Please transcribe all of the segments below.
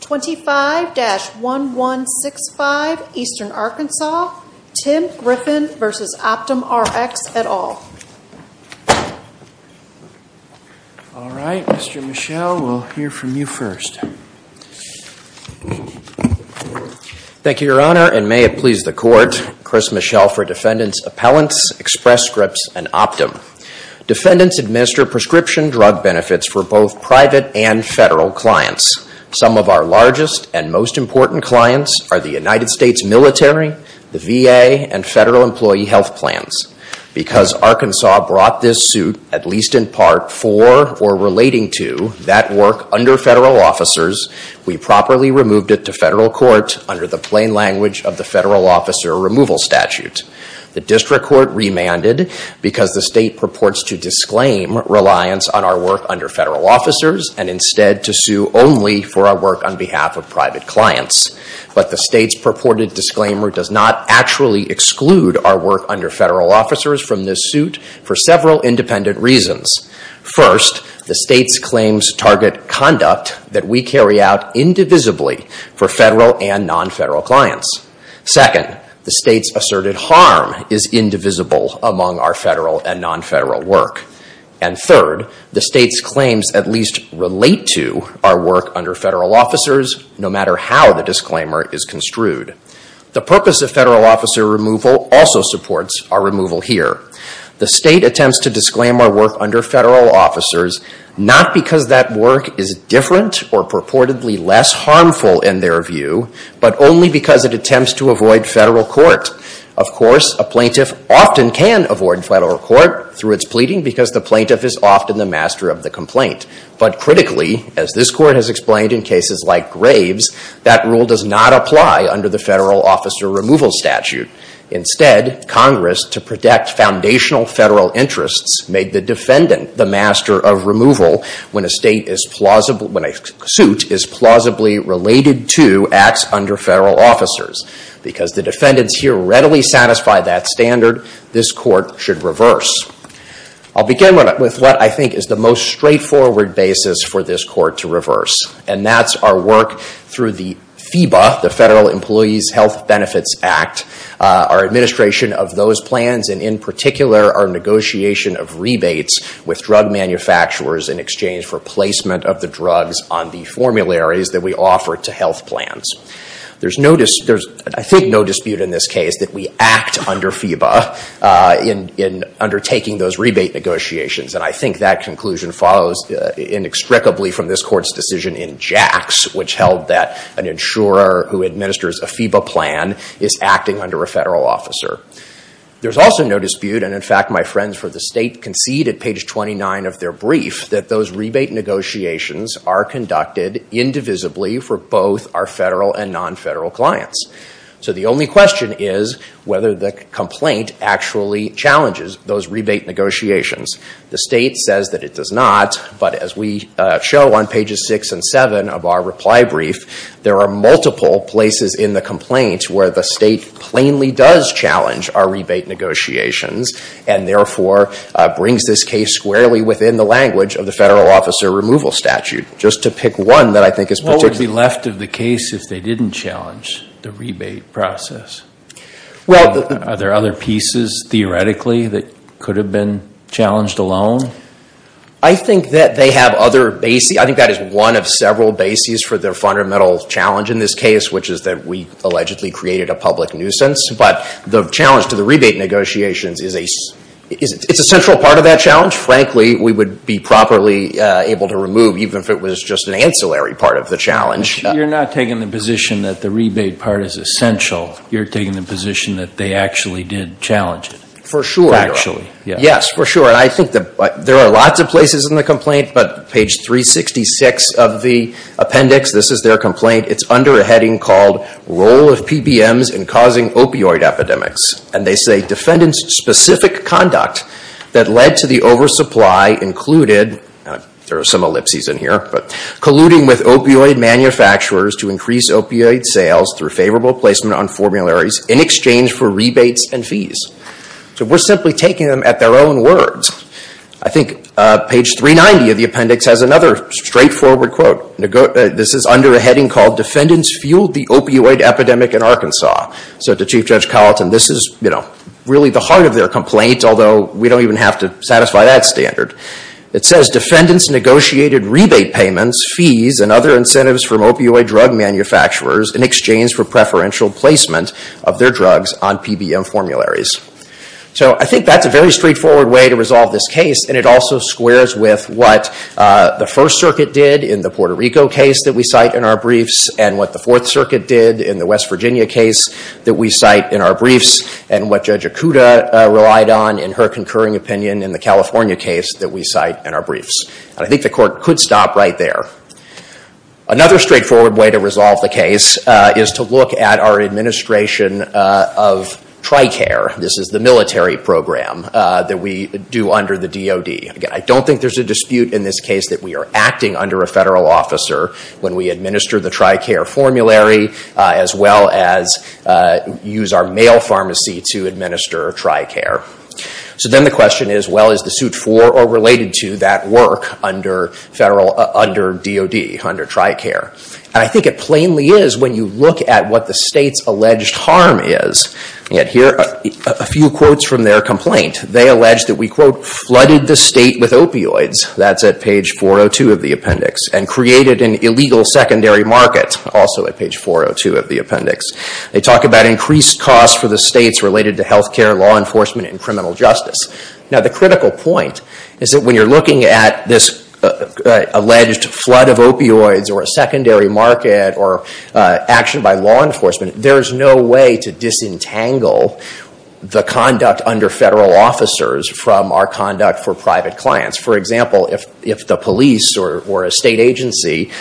25-1165 Eastern Arkansas, Tim Griffin v. OptumRx, et al. All right, Mr. Michel, we'll hear from you first. Thank you, Your Honor, and may it please the Court, Chris Michel for Defendant's Appellants, Express Scripts, and Optum. Defendants administer prescription drug benefits for both private and federal clients. Some of our largest and most important clients are the United States military, the VA, and federal employee health plans. Because Arkansas brought this suit, at least in part, for or relating to that work under federal officers, we properly removed it to federal court under the plain language of the Federal Officer Removal Statute. The district court remanded because the state purports to disclaim reliance on our work under federal officers and instead to sue only for our work on behalf of private clients. But the state's purported disclaimer does not actually exclude our work under federal officers from this suit for several independent reasons. First, the state's claims target conduct that we carry out indivisibly for federal and non-federal clients. Second, the state's asserted harm is indivisible among our federal and non-federal work. And third, the state's claims at least relate to our work under federal officers, no matter how the disclaimer is construed. The purpose of federal officer removal also supports our removal here. The state attempts to disclaim our work under federal officers not because that work is different or purportedly less harmful in their view, but only because it attempts to avoid federal court. Of course, a plaintiff often can avoid federal court through its pleading because the plaintiff is often the master of the complaint. But critically, as this court has explained in cases like Graves, that rule does not apply under the Federal Officer Removal Statute. Instead, Congress, to protect foundational federal interests, made the defendant the master of removal when a suit is plausibly related to acts under federal officers. Because the defendants here readily satisfy that standard, this court should reverse. I'll begin with what I think is the most straightforward basis for this court to reverse. And that's our work through the FEBA, the Federal Employees Health Benefits Act, our administration of those plans, and in particular, our negotiation of rebates with drug manufacturers in exchange for placement of the drugs on the formularies that we offer to health plans. There's, I think, no dispute in this case that we act under FEBA in undertaking those rebate negotiations. And I think that conclusion follows inextricably from this court's decision in Jax, which held that an insurer who administers a FEBA plan is acting under a federal officer. There's also no dispute, and in fact, my friends for the state concede at page 29 of their brief, that those rebate negotiations are conducted indivisibly for both our federal and non-federal clients. So the only question is whether the complaint actually challenges those rebate negotiations. The state says that it does not, but as we show on pages six and seven of our reply brief, there are multiple places in the complaint where the state plainly does challenge our rebate negotiations and therefore brings this case squarely within the language of the federal officer removal statute. Just to pick one that I think is particular. What would be left of the case if they didn't challenge the rebate process? Are there other pieces theoretically that could have been challenged alone? I think that they have other bases. I think that is one of several bases for their fundamental challenge in this case, which is that we allegedly created a public nuisance. But the challenge to the rebate negotiations is a central part of that challenge. Frankly, we would be properly able to remove even if it was just an ancillary part of the challenge. You're not taking the position that the rebate part is essential. You're taking the position that they actually did challenge it. For sure. Yes, for sure. I think there are lots of places in the complaint, but page 366 of the appendix, this is their complaint. It's under a heading called role of PBMs in causing opioid epidemics. And they say defendant-specific conduct that led to the oversupply included, there are some ellipses in here, colluding with opioid manufacturers to increase opioid sales through favorable placement on formularies in exchange for rebates and fees. So we're simply taking them at their own words. I think page 390 of the appendix has another straightforward quote. This is under a heading called defendants fueled the opioid epidemic in Arkansas. So to Chief Judge Colleton, this is really the heart of their complaint, although we don't even have to satisfy that standard. It says defendants negotiated rebate payments, fees, and other incentives from opioid drug manufacturers in exchange for preferential placement of their drugs on PBM formularies. So I think that's a very straightforward way to resolve this case, and it also squares with what the First Circuit did in the Puerto Rico case that we cite in our briefs, and what the Fourth Circuit did in the West Virginia case that we cite in our briefs, and what Judge Acuda relied on in her concurring opinion in the California case that we cite in our briefs. And I think the Court could stop right there. Another straightforward way to resolve the case is to look at our administration of TRICARE. This is the military program that we do under the DOD. Again, I don't think there's a dispute in this case that we are acting under a federal officer when we administer the TRICARE formulary, as well as use our mail pharmacy to administer TRICARE. So then the question is, well, is the suit for or related to that work under DOD, under TRICARE? And I think it plainly is when you look at what the state's alleged harm is. Yet here are a few quotes from their complaint. They allege that we, quote, flooded the state with opioids. That's at page 402 of the appendix. And created an illegal secondary market, also at page 402 of the appendix. They talk about increased costs for the states related to health care, law enforcement, and criminal justice. Now, the critical point is that when you're looking at this alleged flood of opioids or a secondary market or action by law enforcement, there is no way to disentangle the conduct under federal officers from our conduct for private clients. For example, if the police or a state agency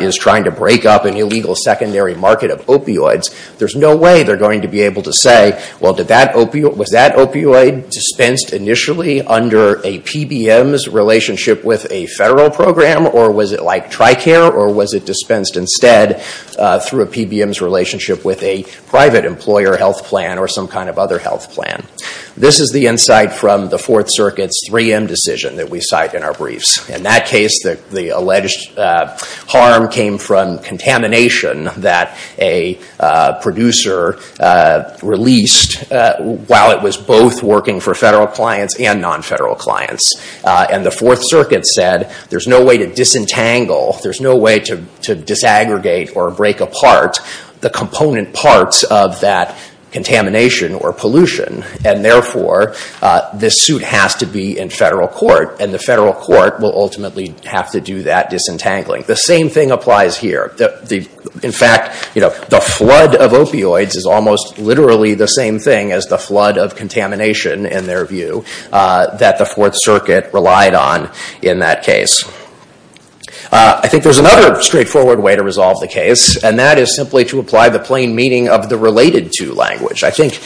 is trying to break up an illegal secondary market of opioids, there's no way they're going to be able to say, well, was that opioid dispensed initially under a PBM's relationship with a federal program, or was it like TRICARE, or was it dispensed instead through a PBM's relationship with a private employer health plan or some kind of other health plan? This is the insight from the Fourth Circuit's 3M decision that we cite in our briefs. In that case, the alleged harm came from contamination that a producer released while it was both working for federal clients and non-federal clients. And the Fourth Circuit said there's no way to disentangle, there's no way to disaggregate or break apart the component parts of that contamination or pollution, and therefore this suit has to be in federal court, and the federal court will ultimately have to do that disentangling. The same thing applies here. In fact, the flood of opioids is almost literally the same thing as the flood of contamination, in their view, that the Fourth Circuit relied on in that case. I think there's another straightforward way to resolve the case, and that is simply to apply the plain meaning of the related to language. I think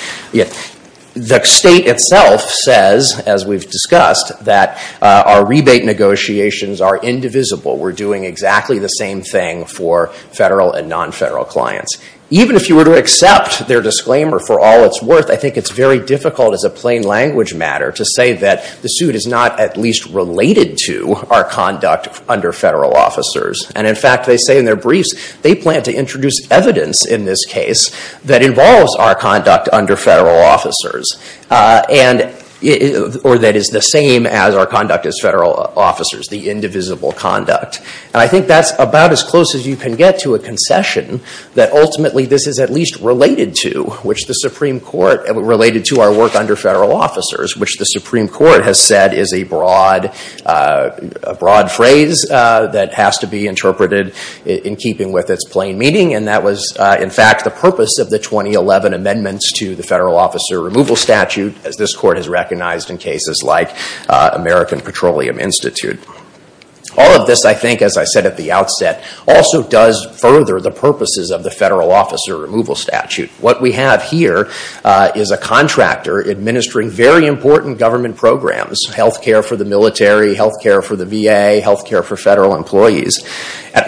the state itself says, as we've discussed, that our rebate negotiations are indivisible. We're doing exactly the same thing for federal and non-federal clients. Even if you were to accept their disclaimer for all it's worth, I think it's very difficult as a plain language matter to say that the suit is not at least related to our conduct under federal officers. And, in fact, they say in their briefs they plan to introduce evidence in this case that involves our conduct under federal officers, or that is the same as our conduct as federal officers, the indivisible conduct. And I think that's about as close as you can get to a concession that ultimately this is at least related to our work under federal officers, which the Supreme Court has said is a broad phrase that has to be interpreted in keeping with its plain meaning. And that was, in fact, the purpose of the 2011 amendments to the federal officer removal statute, as this Court has recognized in cases like American Petroleum Institute. All of this, I think, as I said at the outset, also does further the purposes of the federal officer removal statute. What we have here is a contractor administering very important government programs, health care for the military, health care for the VA, health care for federal employees.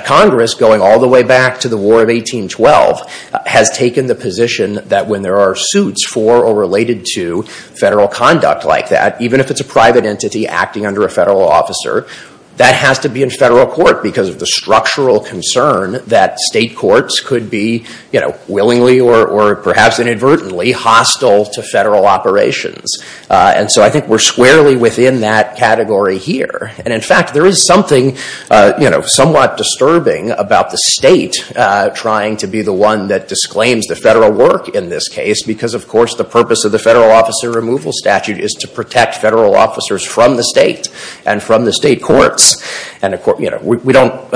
Congress, going all the way back to the War of 1812, has taken the position that when there are suits for or related to federal conduct like that, even if it's a private entity acting under a federal officer, that has to be in federal court because of the structural concern that state courts could be willingly or perhaps inadvertently hostile to federal operations. And so I think we're squarely within that category here. And, in fact, there is something somewhat disturbing about the state trying to be the one that disclaims the federal work in this case because, of course, the purpose of the federal officer removal statute is to protect federal officers from the state and from the state courts. We don't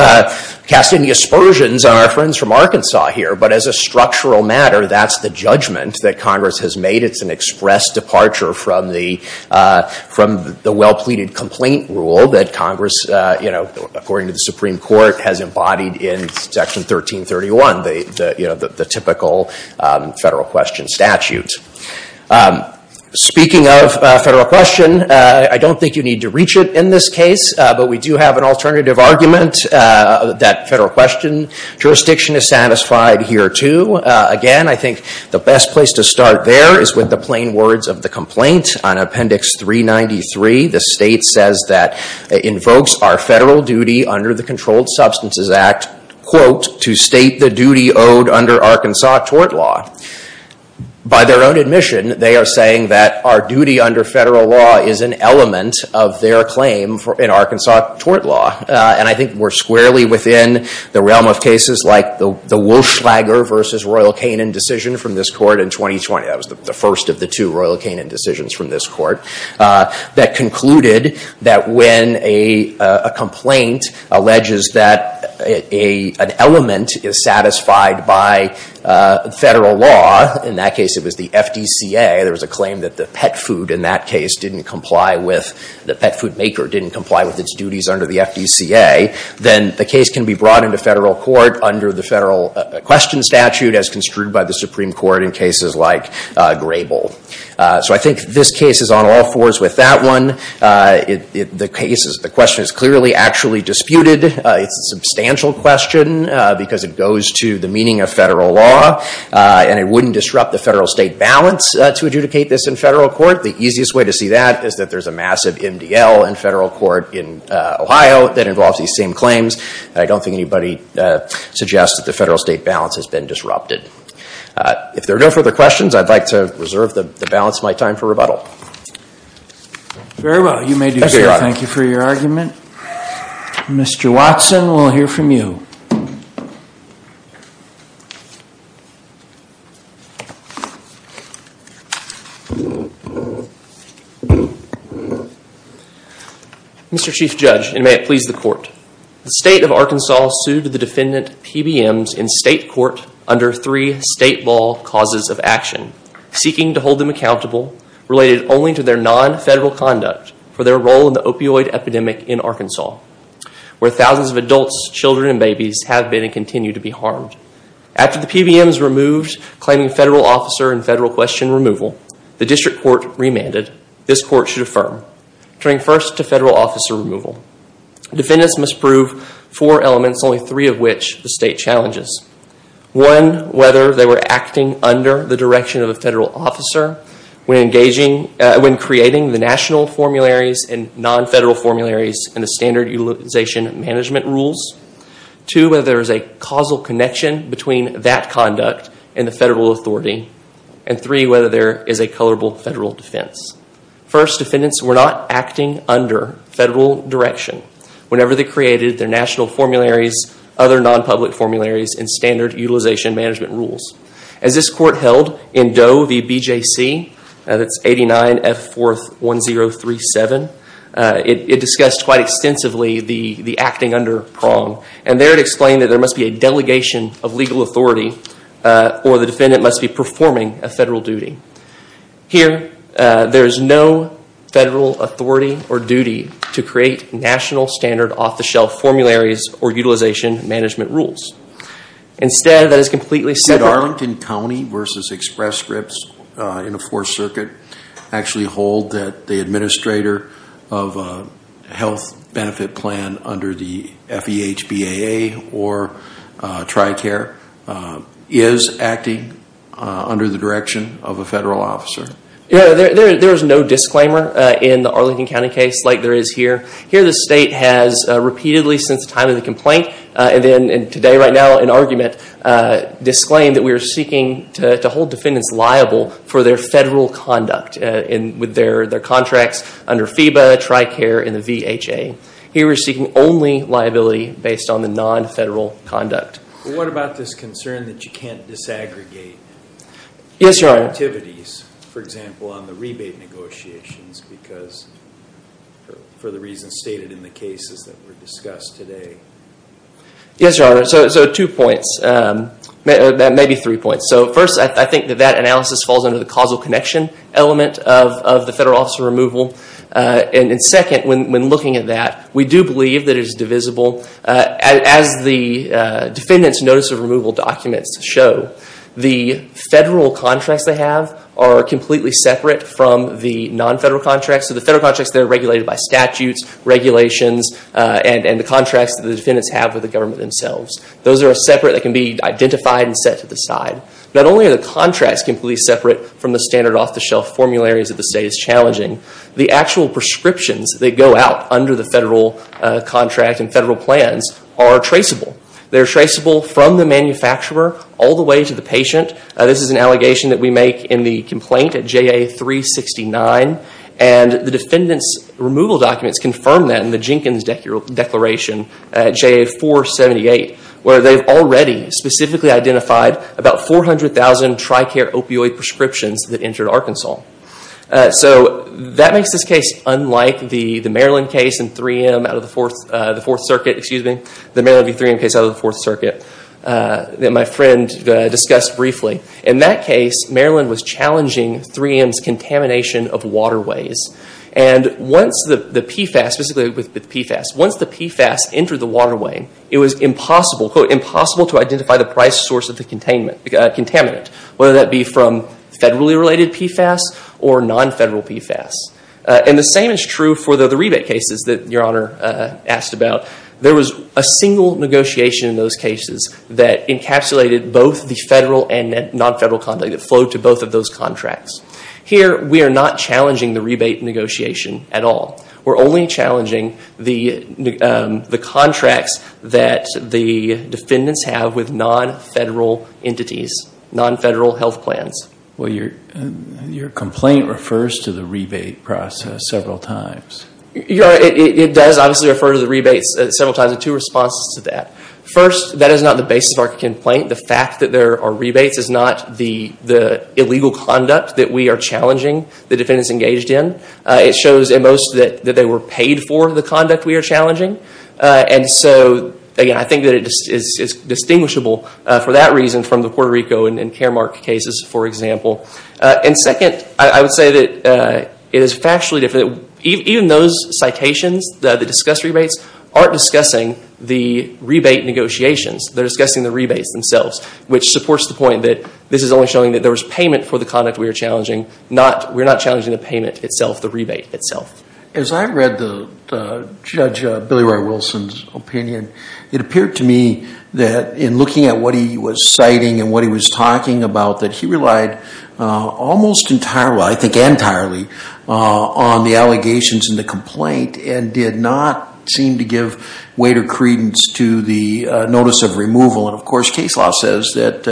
cast any aspersions on our friends from Arkansas here, but as a structural matter, that's the judgment that Congress has made. It's an express departure from the well-pleaded complaint rule that Congress, according to the Supreme Court, has embodied in Section 1331, the typical federal question statute. Speaking of federal question, I don't think you need to reach it in this case, but we do have an alternative argument that federal question jurisdiction is satisfied here, too. Again, I think the best place to start there is with the plain words of the complaint. On Appendix 393, the state says that it invokes our federal duty under the Controlled Substances Act, quote, to state the duty owed under Arkansas tort law. By their own admission, they are saying that our duty under federal law is an element of their claim in Arkansas tort law. And I think we're squarely within the realm of cases like the Welschlager v. Royal Canin decision from this court in 2020. That was the first of the two Royal Canin decisions from this court that concluded that when a complaint alleges that an element is satisfied by federal law, in that case it was the FDCA, there was a claim that the pet food in that case didn't comply with, the pet food maker didn't comply with its duties under the FDCA, then the case can be brought into federal court under the federal question statute as construed by the Supreme Court in cases like Grable. So I think this case is on all fours with that one. The question is clearly actually disputed. It's a substantial question because it goes to the meaning of federal law, and it wouldn't disrupt the federal-state balance to adjudicate this in federal court. The easiest way to see that is that there's a massive MDL in federal court in Ohio that involves these same claims. I don't think anybody suggests that the federal-state balance has been disrupted. If there are no further questions, I'd like to reserve the balance of my time for rebuttal. Very well. You may do so. Thank you for your argument. Mr. Watson, we'll hear from you. Mr. Chief Judge, and may it please the court, the state of Arkansas sued the defendant PBMs in state court under three state law causes of action, seeking to hold them accountable related only to their non-federal conduct for their role in the opioid epidemic in Arkansas, where thousands of adults, children, and babies have been and continue to be harmed. After the PBMs were moved, claiming federal officer and federal question removal, the district court remanded this court should affirm, turning first to federal officer removal. Defendants must prove four elements, only three of which the state challenges. One, whether they were acting under the direction of a federal officer when creating the national formularies and non-federal formularies in the standard utilization management rules. Two, whether there is a causal connection between that conduct and the federal authority. And three, whether there is a colorable federal defense. First, defendants were not acting under federal direction whenever they created their national formularies, other non-public formularies, and standard utilization management rules. As this court held in Doe v. BJC, that's 89F41037, it discussed quite extensively the acting under prong. And there it explained that there must be a delegation of legal authority, or the defendant must be performing a federal duty. Here, there is no federal authority or duty to create national standard off-the-shelf formularies or utilization management rules. Instead, that is completely separate. Could Arlington County v. Express Scripts in the Fourth Circuit actually hold that the administrator of a health benefit plan under the FEHBAA or TRICARE is acting under the direction of a federal officer? There is no disclaimer in the Arlington County case like there is here. Here, the state has repeatedly since the time of the complaint, and today right now in argument, disclaimed that we are seeking to hold defendants liable for their federal conduct with their contracts under FEHBAA, TRICARE, and the VHA. Here, we are seeking only liability based on the non-federal conduct. What about this concern that you can't disaggregate activities, for example, on the rebate negotiations for the reasons stated in the cases that were discussed today? Yes, Your Honor, so two points, maybe three points. First, I think that that analysis falls under the causal connection element of the federal officer removal. Second, when looking at that, we do believe that it is divisible. As the defendant's notice of removal documents show, the federal contracts they have are completely separate from the non-federal contracts. The federal contracts are regulated by statutes, regulations, and the contracts that the defendants have with the government themselves. Those are separate that can be identified and set to the side. Not only are the contracts completely separate from the standard off-the-shelf formularies that the state is challenging, the actual prescriptions that go out under the federal contract and federal plans are traceable. They're traceable from the manufacturer all the way to the patient. This is an allegation that we make in the complaint at JA-369, and the defendant's removal documents confirm that in the Jenkins Declaration at JA-478, where they've already specifically identified about 400,000 TRICARE opioid prescriptions that entered Arkansas. That makes this case unlike the Maryland case in 3M out of the Fourth Circuit, excuse me, the Maryland v. 3M case out of the Fourth Circuit that my friend discussed briefly. In that case, Maryland was challenging 3M's contamination of waterways. And once the PFAS, specifically with PFAS, once the PFAS entered the waterway, it was impossible, quote, impossible to identify the price source of the contaminant, whether that be from federally related PFAS or non-federal PFAS. And the same is true for the rebate cases that Your Honor asked about. There was a single negotiation in those cases that encapsulated both the federal and non-federal conduct that flowed to both of those contracts. Here, we are not challenging the rebate negotiation at all. We're only challenging the contracts that the defendants have with non-federal entities, non-federal health plans. Well, your complaint refers to the rebate process several times. Your Honor, it does obviously refer to the rebates several times, and two responses to that. First, that is not the basis of our complaint. The fact that there are rebates is not the illegal conduct that we are challenging the defendants engaged in. It shows at most that they were paid for the conduct we are challenging. And so, again, I think that it's distinguishable for that reason from the Puerto Rico and Caremark cases, for example. And second, I would say that it is factually different. Even those citations that discuss rebates aren't discussing the rebate negotiations. They're discussing the rebates themselves, which supports the point that this is only showing that there was payment for the conduct we are challenging. We're not challenging the payment itself, the rebate itself. As I read Judge Billy Roy Wilson's opinion, it appeared to me that in looking at what he was citing and what he was talking about, that he relied almost entirely, I think entirely, on the allegations in the complaint and did not seem to give weight or credence to the notice of removal. And, of course, case law says that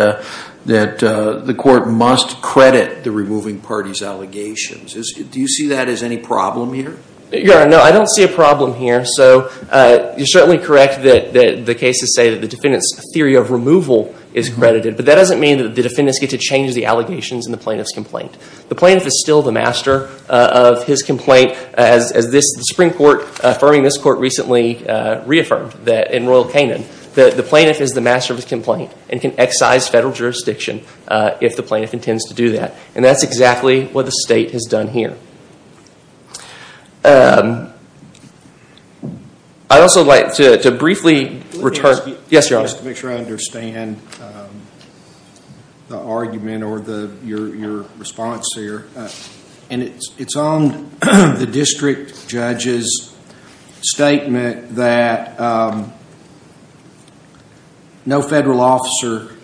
the court must credit the removing party's allegations. Do you see that as any problem here? Your Honor, no, I don't see a problem here. So you're certainly correct that the cases say that the defendant's theory of removal is credited, but that doesn't mean that the defendants get to change the allegations in the plaintiff's complaint. The plaintiff is still the master of his complaint, as the Supreme Court, affirming this court recently reaffirmed in Royal Canin, that the plaintiff is the master of his complaint and can excise federal jurisdiction if the plaintiff intends to do that. And that's exactly what the state has done here. I'd also like to briefly return... Yes, Your Honor. Just to make sure I understand the argument or your response here. It's on the district judge's statement that no federal officer,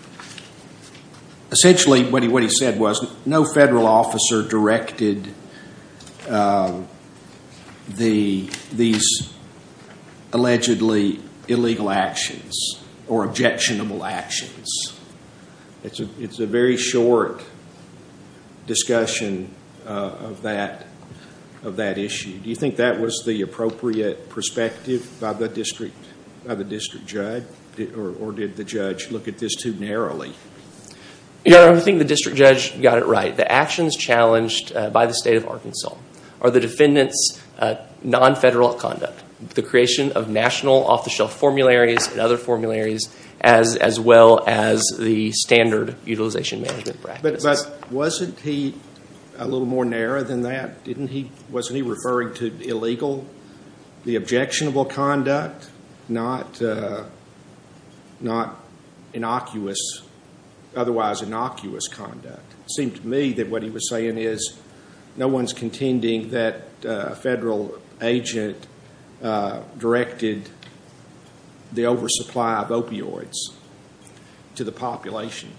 essentially what he said was no federal officer directed these allegedly illegal actions or objectionable actions. It's a very short discussion of that issue. Do you think that was the appropriate perspective by the district judge? Or did the judge look at this too narrowly? Your Honor, I think the district judge got it right. The actions challenged by the state of Arkansas are the defendant's non-federal conduct, the creation of national off-the-shelf formularies and other formularies, as well as the standard utilization management practice. But wasn't he a little more narrow than that? Wasn't he referring to illegal, the objectionable conduct, not otherwise innocuous conduct? It seemed to me that what he was saying is no one's contending that a federal agent directed the oversupply of opioids to the population.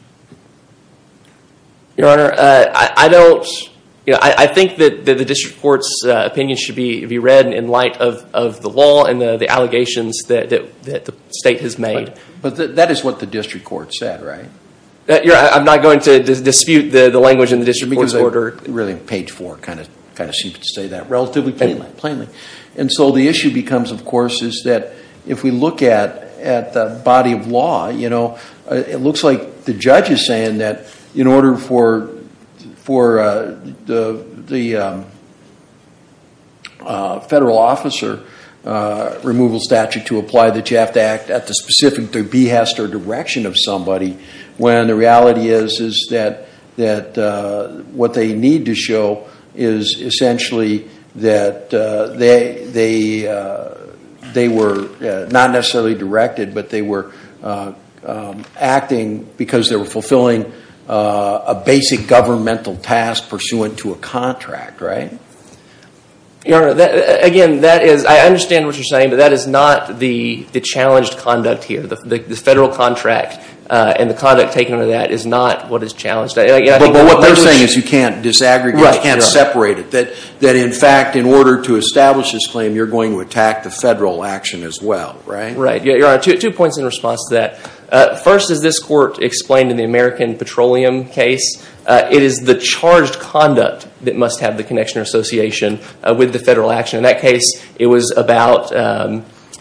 Your Honor, I think that the district court's opinion should be read in light of the law and the allegations that the state has made. But that is what the district court said, right? I'm not going to dispute the language in the district court's order. Really, page four kind of seems to say that relatively plainly. And so the issue becomes, of course, is that if we look at the body of law, it looks like the judge is saying that in order for the federal officer removal statute to apply that you have to act at the specific behest or direction of somebody, when the reality is that what they need to show is essentially that they were not necessarily directed, but they were acting because they were fulfilling a basic governmental task pursuant to a contract, right? Your Honor, again, I understand what you're saying, but that is not the challenged conduct here. The federal contract and the conduct taken under that is not what is challenged. But what they're saying is you can't disaggregate, you can't separate it, that in fact in order to establish this claim you're going to attack the federal action as well, right? Right. Your Honor, two points in response to that. First, as this court explained in the American Petroleum case, it is the charged conduct that must have the connection or association with the federal action. In that case, it was about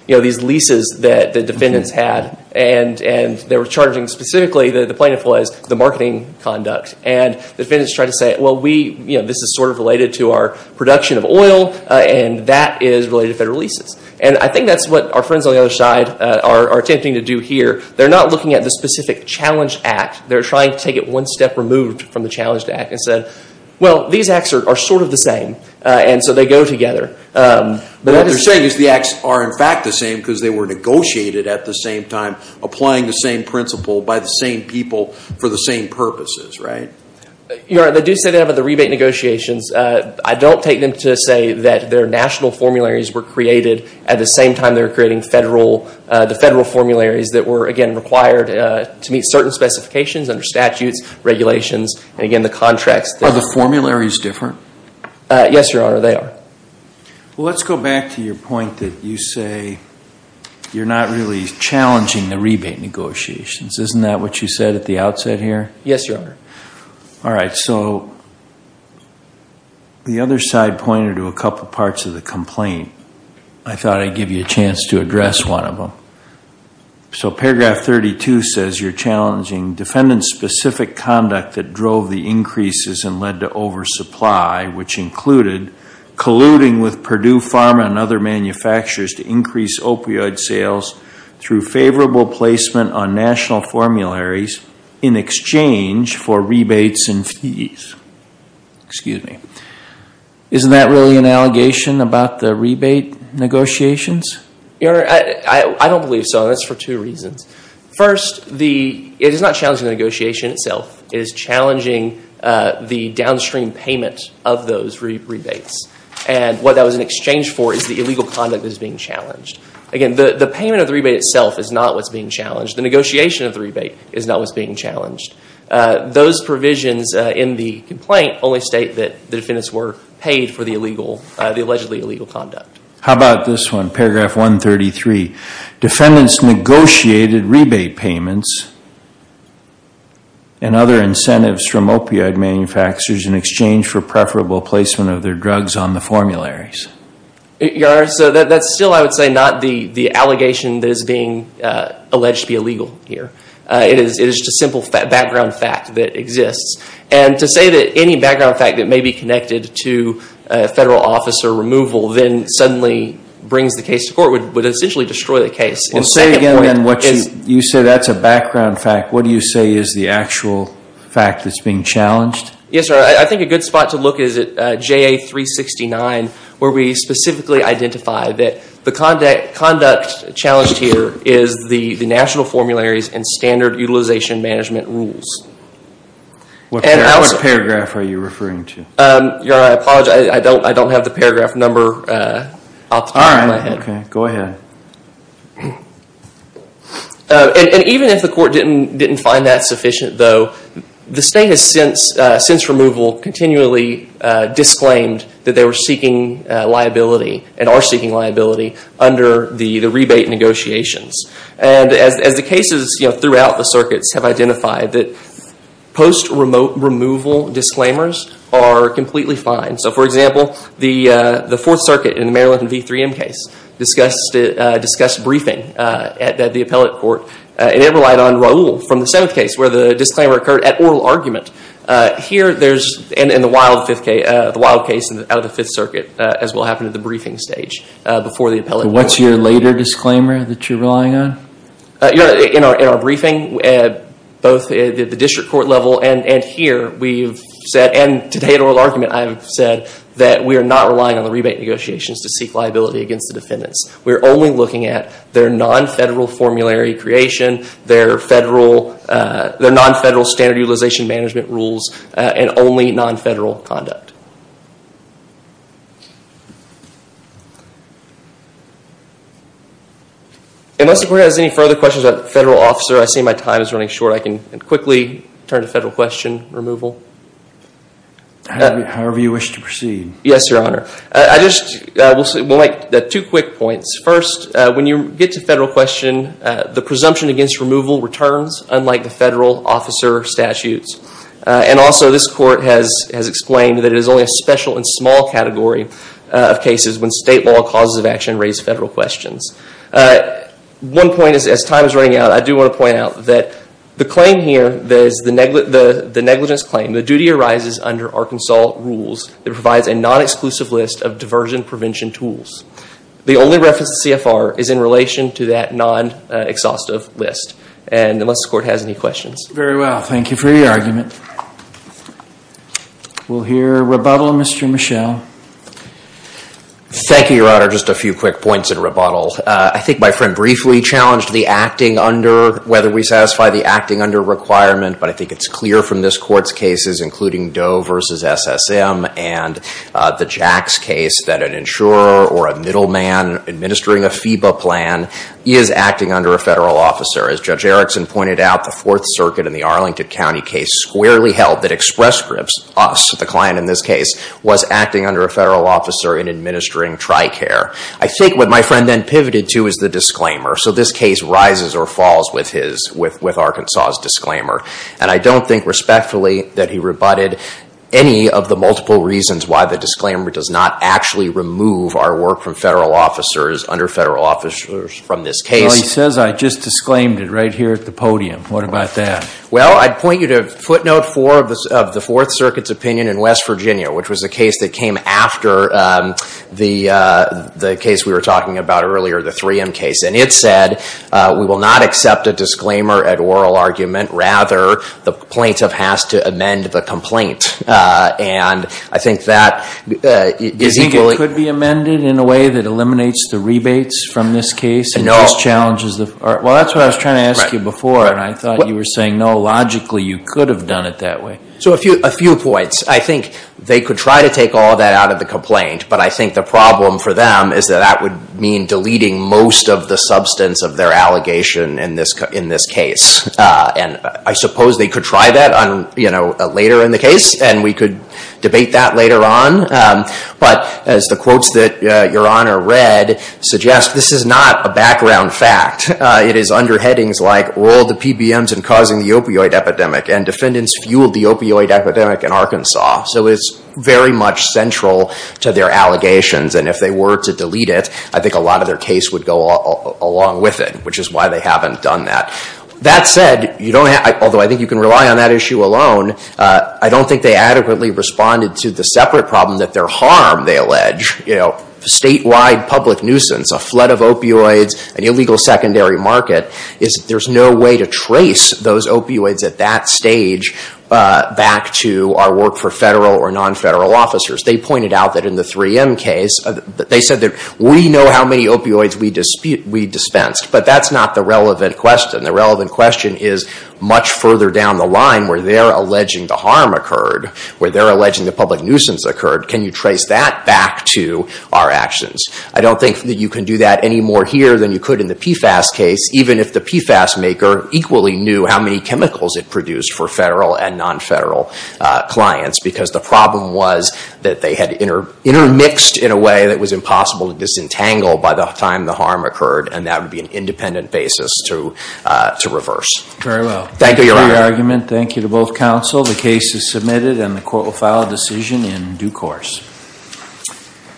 these leases that the defendants had, and they were charging specifically, the plaintiff was, the marketing conduct. And the defendants tried to say, well, this is sort of related to our production of oil, and that is related to federal leases. And I think that's what our friends on the other side are attempting to do here. They're not looking at the specific challenge act. They're trying to take it one step removed from the challenge act and say, well, these acts are sort of the same. And so they go together. What they're saying is the acts are in fact the same because they were negotiated at the same time, applying the same principle by the same people for the same purposes, right? Your Honor, they do say that about the rebate negotiations. I don't take them to say that their national formularies were created at the same time they were creating the federal formularies that were, again, required to meet certain specifications under statutes, regulations, and, again, the contracts. Are the formularies different? Yes, Your Honor, they are. Well, let's go back to your point that you say you're not really challenging the rebate negotiations. Isn't that what you said at the outset here? Yes, Your Honor. All right, so the other side pointed to a couple parts of the complaint. I thought I'd give you a chance to address one of them. So paragraph 32 says you're challenging defendant-specific conduct that drove the increases and led to oversupply, which included colluding with Purdue Pharma and other manufacturers to increase opioid sales through favorable placement on national formularies in exchange for rebates and fees. Excuse me. Isn't that really an allegation about the rebate negotiations? Your Honor, I don't believe so, and that's for two reasons. First, it is not challenging the negotiation itself. It is challenging the downstream payment of those rebates, and what that was in exchange for is the illegal conduct that is being challenged. Again, the payment of the rebate itself is not what's being challenged. The negotiation of the rebate is not what's being challenged. Those provisions in the complaint only state that the defendants were paid for the allegedly illegal conduct. How about this one, paragraph 133? Defendants negotiated rebate payments and other incentives from opioid manufacturers in exchange for preferable placement of their drugs on the formularies. Your Honor, that's still, I would say, not the allegation that is being alleged to be illegal here. It is just a simple background fact that exists. To say that any background fact that may be connected to federal officer removal then suddenly brings the case to court would essentially destroy the case. You say that's a background fact. What do you say is the actual fact that's being challenged? Yes, Your Honor. I think a good spot to look is at JA 369, where we specifically identify that the conduct challenged here is the national formularies and standard utilization management rules. What paragraph are you referring to? Your Honor, I apologize. I don't have the paragraph number off the top of my head. All right. Go ahead. Even if the court didn't find that sufficient, though, the state has since removal continually disclaimed that they were seeking liability and are seeking liability under the rebate negotiations. As the cases throughout the circuits have identified, post-removal disclaimers are completely fine. For example, the Fourth Circuit in the Maryland v. 3M case discussed briefing at the appellate court. It relied on Raul from the seventh case where the disclaimer occurred at oral argument. Here there's, in the Wild case out of the Fifth Circuit, as will happen at the briefing stage before the appellate court. What's your later disclaimer that you're relying on? Your Honor, in our briefing, both at the district court level and here, we've said, and today at oral argument I've said, that we are not relying on the rebate negotiations to seek liability against the defendants. We're only looking at their non-federal formulary creation, their non-federal standard utilization management rules, and only non-federal conduct. Unless the court has any further questions about the federal officer, I see my time is running short. I can quickly turn to federal question removal. However you wish to proceed. Yes, Your Honor. I just would like two quick points. First, when you get to federal question, the presumption against removal returns, unlike the federal officer statutes. And also, this court has explained that it is only a special and small category of cases when state law causes of action raise federal questions. One point, as time is running out, I do want to point out that the claim here, the negligence claim, the duty arises under Arkansas rules that provides a non-exclusive list of diversion prevention tools. The only reference to CFR is in relation to that non-exhaustive list. And unless the court has any questions. Very well. Thank you for your argument. We'll hear rebuttal, Mr. Michel. Thank you, Your Honor. Just a few quick points in rebuttal. I think my friend briefly challenged the acting under, whether we satisfy the acting under requirement, but I think it's clear from this court's cases, including Doe v. SSM and the Jacks case, that an insurer or a middleman administering a FEBA plan is acting under a federal officer. As Judge Erickson pointed out, the Fourth Circuit in the Arlington County case squarely held that Express Scripts, us, the client in this case, was acting under a federal officer in administering TRICARE. I think what my friend then pivoted to is the disclaimer. So this case rises or falls with Arkansas's disclaimer. And I don't think respectfully that he rebutted any of the multiple reasons why the disclaimer does not actually remove our work from federal officers, under federal officers, from this case. Well, he says I just disclaimed it right here at the podium. What about that? Well, I'd point you to footnote 4 of the Fourth Circuit's opinion in West Virginia, which was the case that came after the case we were talking about earlier, the 3M case. And it said we will not accept a disclaimer at oral argument. Rather, the plaintiff has to amend the complaint. And I think that is equally – Do you think it could be amended in a way that eliminates the rebates from this case? No. Well, that's what I was trying to ask you before, and I thought you were saying no, logically you could have done it that way. So a few points. I think they could try to take all of that out of the complaint, but I think the problem for them is that that would mean deleting most of the substance of their allegation in this case. And I suppose they could try that later in the case, and we could debate that later on. But as the quotes that Your Honor read suggest, this is not a background fact. It is under headings like, Oil to PBMs and Causing the Opioid Epidemic, and Defendants Fueled the Opioid Epidemic in Arkansas. So it's very much central to their allegations. And if they were to delete it, I think a lot of their case would go along with it, which is why they haven't done that. That said, although I think you can rely on that issue alone, I don't think they adequately responded to the separate problem that their harm, they allege, statewide public nuisance, a flood of opioids, an illegal secondary market, is that there's no way to trace those opioids at that stage back to our work for federal or non-federal officers. They pointed out that in the 3M case, they said that we know how many opioids we dispensed, but that's not the relevant question. The relevant question is much further down the line where they're alleging the harm occurred, where they're alleging the public nuisance occurred. Can you trace that back to our actions? I don't think that you can do that any more here than you could in the PFAS case, even if the PFAS maker equally knew how many chemicals it produced for federal and non-federal clients, because the problem was that they had intermixed in a way that was impossible to disentangle by the time the harm occurred, and that would be an independent basis to reverse. Very well. Thank you for your argument. Thank you to both counsel. The case is submitted, and the court will file a decision in due course.